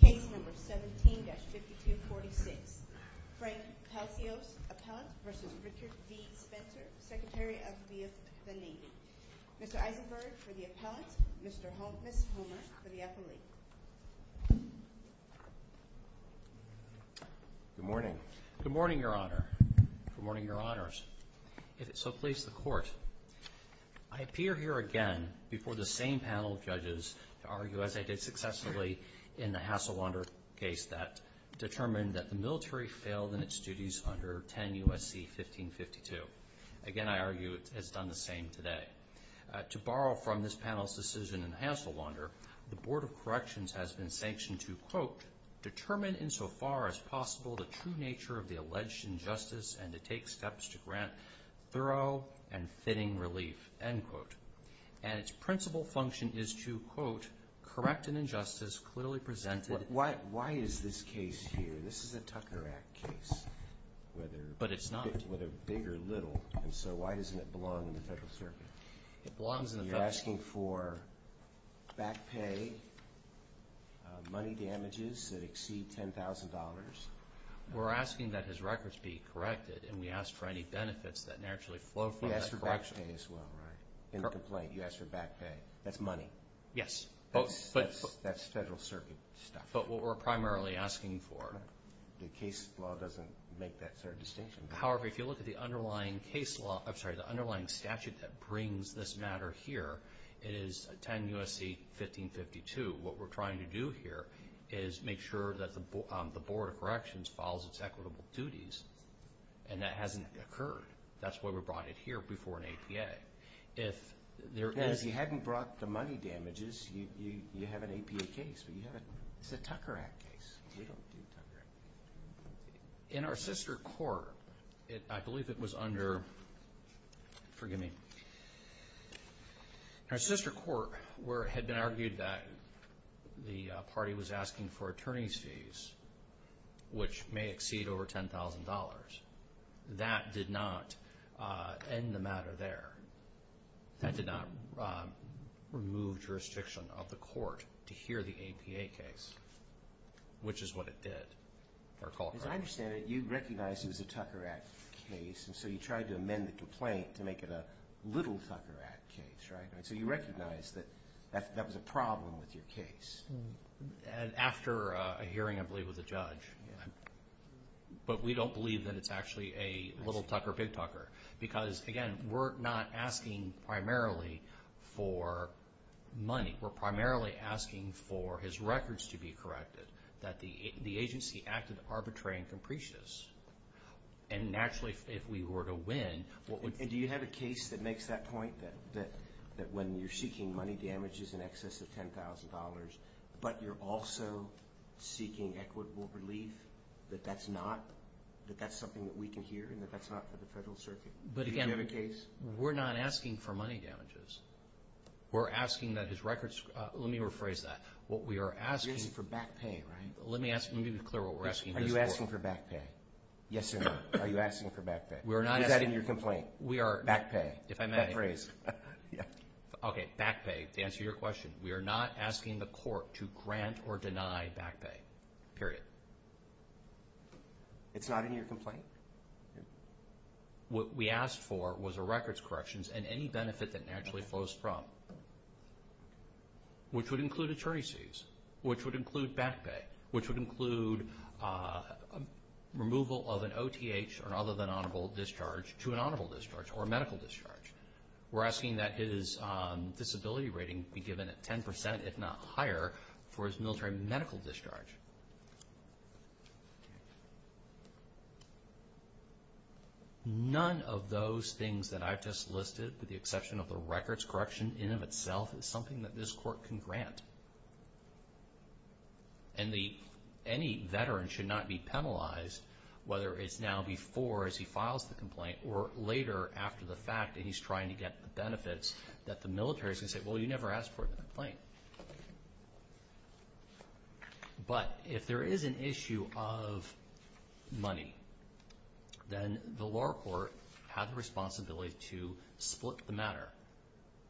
Case number 17-5246. Frank Palacios, appellant, v. Richard D. Spencer, Secretary of the Navy. Mr. Eisenberg for the appellant, Ms. Homer for the affiliate. Good morning. Good morning, Your Honor. Good morning, Your Honors. If it so pleases the Court, I appear here again before the same panel of judges to argue, as I did successfully in the Hasselwander case that determined that the military failed in its duties under 10 U.S.C. 1552. Again, I argue it has done the same today. To borrow from this panel's decision in Hasselwander, the Board of Corrections has been sanctioned to, quote, determine insofar as possible the true nature of the alleged injustice and to take steps to grant thorough and fitting relief, end quote. And its principal function is to, quote, correct an injustice clearly presented. Why is this case here? This is a Tucker Act case. But it's not. Whether big or little. And so why doesn't it belong in the Federal Circuit? It belongs in the Federal Circuit. You're asking for back pay, money damages that exceed $10,000? We're asking that his records be corrected. And we ask for any benefits that naturally flow from that correction. You ask for back pay as well, right? In the complaint, you ask for back pay. That's money. Yes. But... That's Federal Circuit stuff. But what we're primarily asking for... The case law doesn't make that sort of distinction. However, if you look at the underlying statute that brings this matter here, it is 10 U.S.C. 1552. What we're trying to do here is make sure that the Board of Corrections follows its equitable duties. And that hasn't occurred. That's why we brought it here before an APA. And if you hadn't brought the money damages, you have an APA case, but you haven't... It's a Tucker Act case. We don't do Tucker Act. In our sister court, I believe it was under... Forgive me. In our sister court, where it had been argued that the party was asking for attorney's fees, which may exceed over $10,000, that did not end the matter there. That did not remove jurisdiction of the court to hear the APA case, which is what it did. As I understand it, you recognized it was a Tucker Act case, and so you tried to amend the complaint to make it a little Tucker Act case, right? So you recognized that that was a problem with your case. After a hearing, I believe, with a judge. But we don't believe that it's actually a little Tucker, big Tucker. Because, again, we're not asking primarily for money. We're primarily asking for his records to be corrected, that the agency acted arbitrary and capricious. And naturally, if we were to win... And do you have a case that makes that point, that when you're seeking money damages in excess of $10,000, but you're also seeking equitable relief, that that's something that we can hear and that that's not for the federal circuit? Do you have a case? But, again, we're not asking for money damages. We're asking that his records... Let me rephrase that. What we are asking... You're asking for back pay, right? Let me be clear what we're asking for. Are you asking for back pay? Yes or no? Are you asking for back pay? We are not asking... Is that in your complaint? We are... Back pay. If I may... Back pay, to answer your question. We are not asking the court to grant or deny back pay, period. It's not in your complaint? What we asked for was a records corrections and any benefit that naturally flows from, which would include attorney's fees, which would include back pay, which would include removal of an OTH or other than honorable discharge to an honorable discharge or medical discharge. We're asking that his disability rating be given at 10%, if not higher, for his military medical discharge. None of those things that I've just listed, with the exception of the records correction in and of itself, is something that this court can grant. And any veteran should not be penalized, whether it's now before, as he files the complaint, or later after the fact, and he's trying to get the benefits, that the military is going to say, well, you never asked for the complaint. But if there is an issue of money, then the law court has the responsibility to split the matter,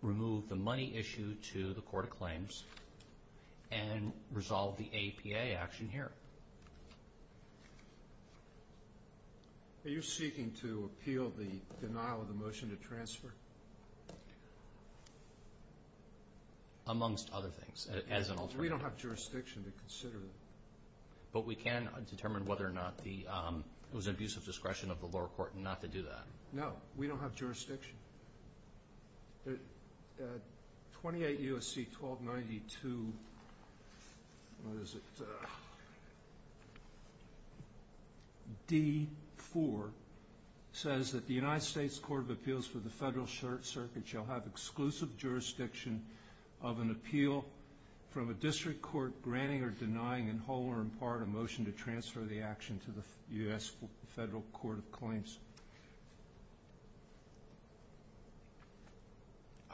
remove the money issue to the court of claims, and resolve the APA action here. Are you seeking to appeal the denial of the motion to transfer? Amongst other things, as an alternative. We don't have jurisdiction to consider that. But we can determine whether or not it was an abuse of discretion of the lower court not to do that. No, we don't have jurisdiction. 28 U.S.C. 1292, what is it, D-4, says that the United States Court of Appeals for the Federal Circuit shall have exclusive jurisdiction of an appeal from a district court granting or denying, in whole or in part, a motion to transfer the action to the U.S. Federal Court of Claims.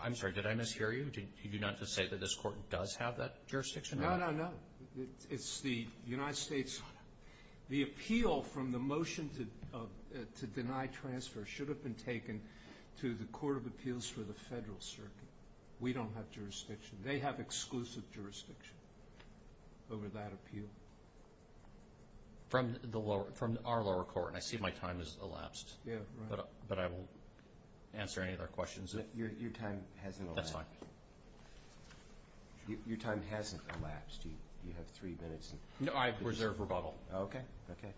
I'm sorry, did I mishear you? Did you not just say that this court does have that jurisdiction? No, no, no. It's the United States. The appeal from the motion to deny transfer should have been taken to the Court of Appeals for the Federal Circuit. We don't have jurisdiction. They have exclusive jurisdiction over that appeal. From our lower court, and I see my time has elapsed. Yeah, right. But I will answer any of their questions. Your time hasn't elapsed. That's fine. Your time hasn't elapsed. You have three minutes. No, I reserve rebuttal. Okay, okay.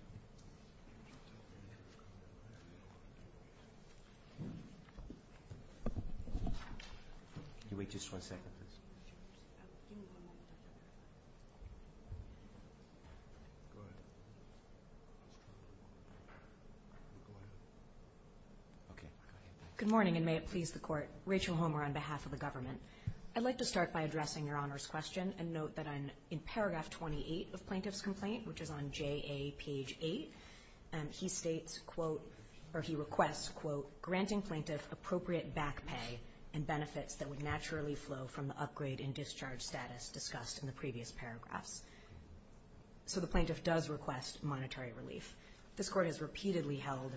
Can you wait just one second, please? Give me one moment. Go ahead. Go ahead. Okay, go ahead. Good morning, and may it please the Court. Rachel Homer on behalf of the government. I'd like to start by addressing Your Honor's question and note that I'm in paragraph 28 of Plaintiff's complaint, which is on J.A. page 8. He states, quote, or he requests, quote, granting plaintiff appropriate back pay and benefits that would naturally flow from the upgrade and discharge status discussed in the previous paragraphs. So the plaintiff does request monetary relief. This Court has repeatedly held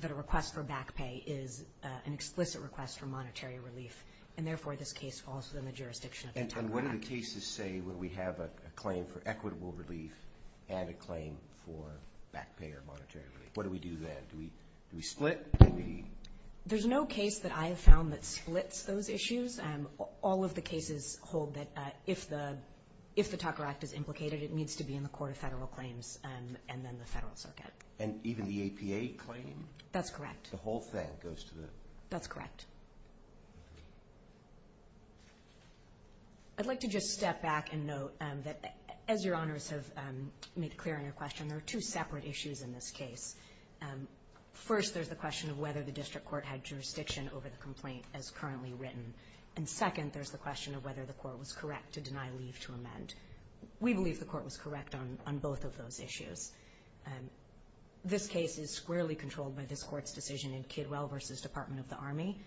that a request for back pay is an explicit request for monetary relief, and therefore this case falls within the jurisdiction of the federal act. And what do the cases say when we have a claim for equitable relief and a claim for back pay or monetary relief? What do we do then? Do we split? Do we? There's no case that I have found that splits those issues. All of the cases hold that if the Tucker Act is implicated, it needs to be in the court of federal claims and then the federal circuit. And even the APA claim? That's correct. The whole thing goes to the? That's correct. I'd like to just step back and note that as Your Honors have made clear in your question, there are two separate issues in this case. First, there's the question of whether the district court had jurisdiction over the complaint as currently written. And second, there's the question of whether the court was correct to deny leave to amend. We believe the court was correct on both of those issues. This case is squarely controlled by this court's decision in Kidwell v. Department of the Army.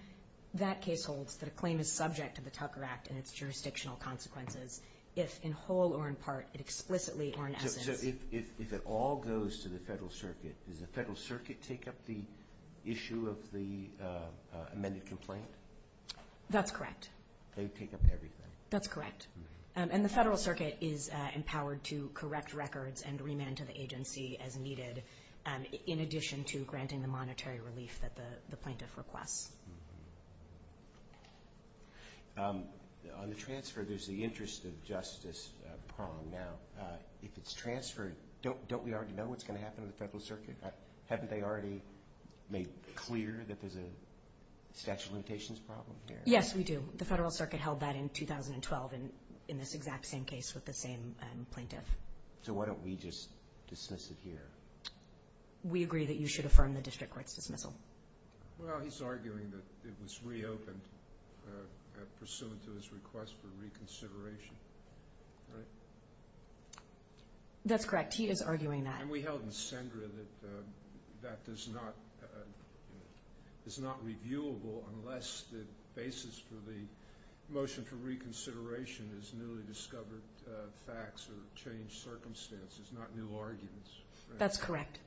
That case holds that a claim is subject to the Tucker Act and its jurisdictional consequences if in whole or in part, explicitly or in essence. So if it all goes to the federal circuit, does the federal circuit take up the issue of the amended complaint? That's correct. They take up everything? That's correct. And the federal circuit is empowered to correct records and remand to the agency as needed, in addition to granting the monetary relief that the plaintiff requests. On the transfer, there's the interest of justice prong now. If it's transferred, don't we already know what's going to happen to the federal circuit? Haven't they already made clear that there's a statute of limitations problem here? Yes, we do. The federal circuit held that in 2012 in this exact same case with the same plaintiff. So why don't we just dismiss it here? We agree that you should affirm the district court's dismissal. Well, he's arguing that it was reopened pursuant to his request for reconsideration, right? That's correct. He is arguing that. And we held in Sendra that that is not reviewable unless the basis for the motion for reconsideration is newly discovered facts or changed circumstances, not new arguments. That's correct.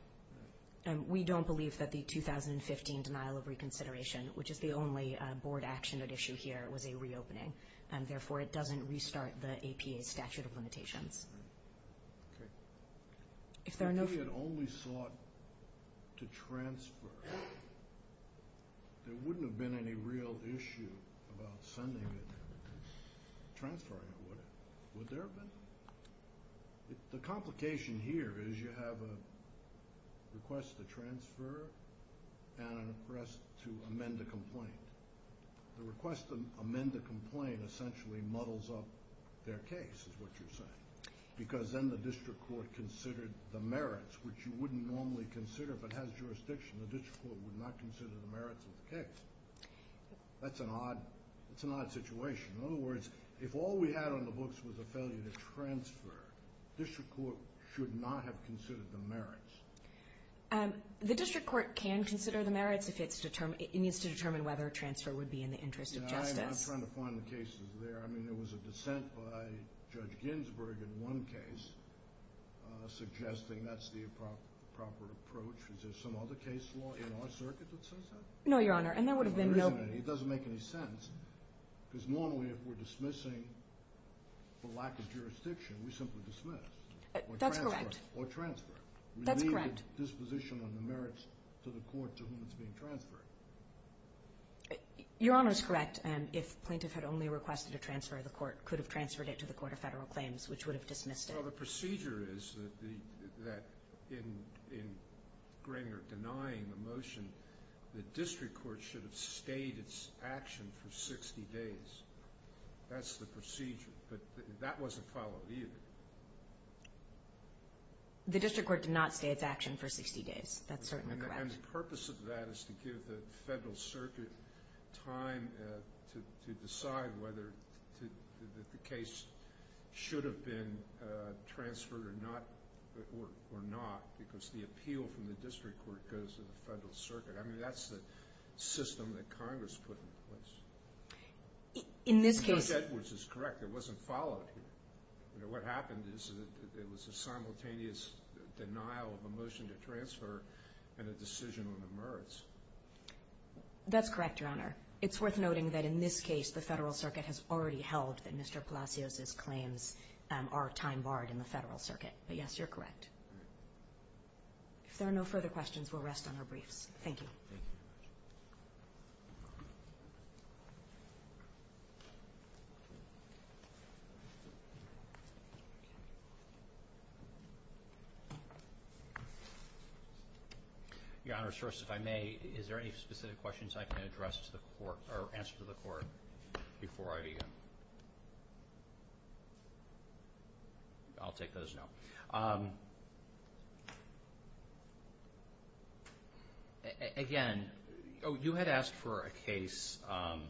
We don't believe that the 2015 denial of reconsideration, which is the only board action at issue here, was a reopening, and therefore it doesn't restart the APA's statute of limitations. Right. Okay. If there are no— If we had only sought to transfer, there wouldn't have been any real issue about sending it and transferring it, would it? Would there have been? The complication here is you have a request to transfer and a request to amend a complaint. The request to amend the complaint essentially muddles up their case, is what you're saying, because then the district court considered the merits, which you wouldn't normally consider if it has jurisdiction. The district court would not consider the merits of the case. That's an odd situation. In other words, if all we had on the books was a failure to transfer, the district court should not have considered the merits. The district court can consider the merits if it needs to determine whether a transfer would be in the interest of justice. I'm trying to find the cases there. I mean, there was a dissent by Judge Ginsburg in one case suggesting that's the proper approach. Is there some other case law in our circuit that says that? No, Your Honor, and there would have been no— It doesn't make any sense, because normally if we're dismissing for lack of jurisdiction, we simply dismiss or transfer. That's correct. We leave the disposition on the merits to the court to whom it's being transferred. Your Honor is correct. If plaintiff had only requested a transfer, the court could have transferred it to the Court of Federal Claims, which would have dismissed it. Well, the procedure is that in Granger denying the motion, the district court should have stayed its action for 60 days. That's the procedure, but that wasn't followed either. The district court did not stay its action for 60 days. That's certainly correct. And the purpose of that is to give the Federal Circuit time to decide whether the case should have been transferred or not, because the appeal from the district court goes to the Federal Circuit. I mean, that's the system that Congress put in place. In this case— Judge Edwards is correct. It wasn't followed here. What happened is that it was a simultaneous denial of a motion to transfer and a decision on the merits. That's correct, Your Honor. It's worth noting that in this case the Federal Circuit has already held that Mr. Palacios's claims are time barred in the Federal Circuit. But, yes, you're correct. If there are no further questions, we'll rest on our briefs. Thank you. Thank you. Thank you. Your Honor, first, if I may, is there any specific questions I can address to the court or answer to the court before I begin? I'll take those now. Again, you had asked for a case—and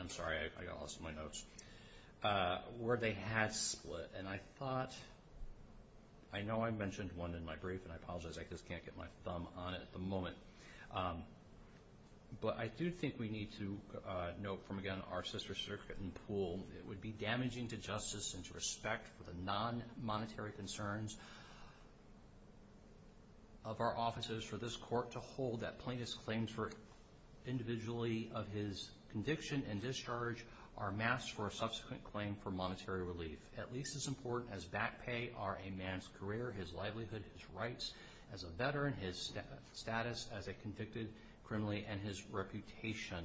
I'm sorry, I lost my notes— where they had split. And I thought—I know I mentioned one in my brief, and I apologize, I just can't get my thumb on it at the moment. But I do think we need to note from, again, our sister circuit in Poole that it would be damaging to justice and to respect for the non-monetary concerns of our offices for this court to hold that plaintiff's claims individually of his conviction and discharge are masked for a subsequent claim for monetary relief, at least as important as back pay or a man's career, his livelihood, his rights as a veteran, his status as a convicted criminal, and his reputation.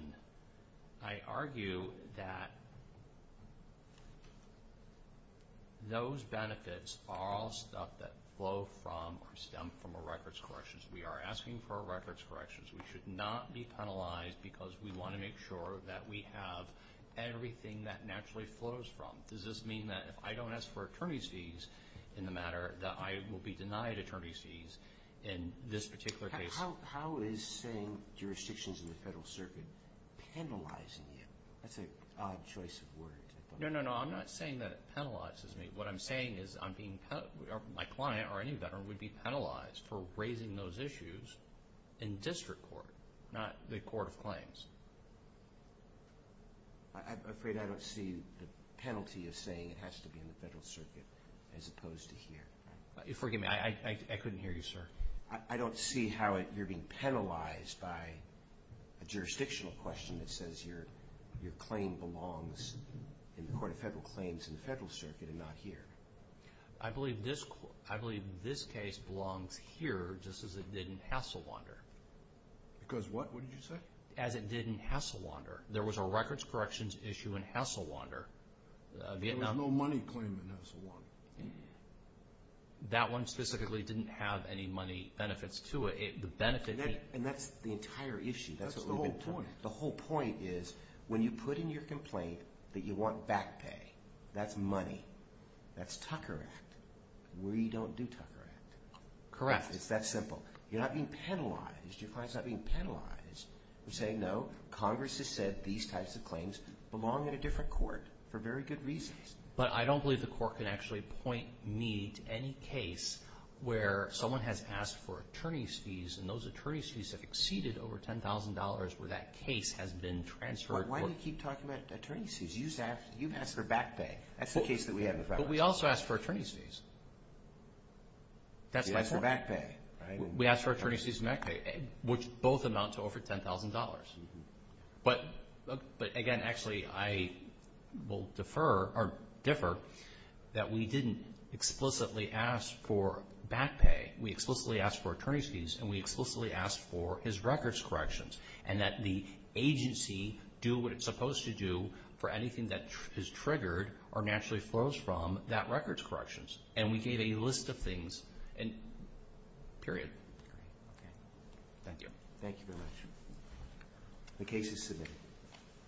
I argue that those benefits are all stuff that flow from or stem from a records corrections. We are asking for a records corrections. We should not be penalized because we want to make sure that we have everything that naturally flows from. Does this mean that if I don't ask for attorney's fees in the matter, that I will be denied attorney's fees in this particular case? How is saying jurisdictions in the federal circuit penalizing you? That's an odd choice of word. No, no, no. I'm not saying that it penalizes me. What I'm saying is my client or any veteran would be penalized for raising those issues in district court, not the court of claims. I'm afraid I don't see the penalty of saying it has to be in the federal circuit as opposed to here. Forgive me. I couldn't hear you, sir. I don't see how you're being penalized by a jurisdictional question that says your claim belongs in the court of federal claims in the federal circuit and not here. I believe this case belongs here just as it did in Hasselwander. Because what? What did you say? As it did in Hasselwander. There was a records corrections issue in Hasselwander. There was no money claim in Hasselwander. That one specifically didn't have any money benefits to it. And that's the entire issue. That's the whole point. The whole point is when you put in your complaint that you want back pay, that's money, that's Tucker Act. We don't do Tucker Act. Correct. It's that simple. You're not being penalized. Your client's not being penalized for saying no, Congress has said these types of claims belong in a different court for very good reasons. But I don't believe the court can actually point me to any case where someone has asked for attorney's fees and those attorney's fees have exceeded over $10,000 where that case has been transferred. Why do you keep talking about attorney's fees? You've asked for back pay. That's the case that we have in the Federal Reserve. But we also asked for attorney's fees. That's my point. You asked for back pay, right? We asked for attorney's fees and back pay, which both amount to over $10,000. But, again, actually I will defer or differ that we didn't explicitly ask for back pay. We explicitly asked for attorney's fees and we explicitly asked for his records corrections and that the agency do what it's supposed to do for anything that is triggered or naturally flows from that records corrections. And we gave a list of things, period. Thank you. Thank you very much. The case is submitted.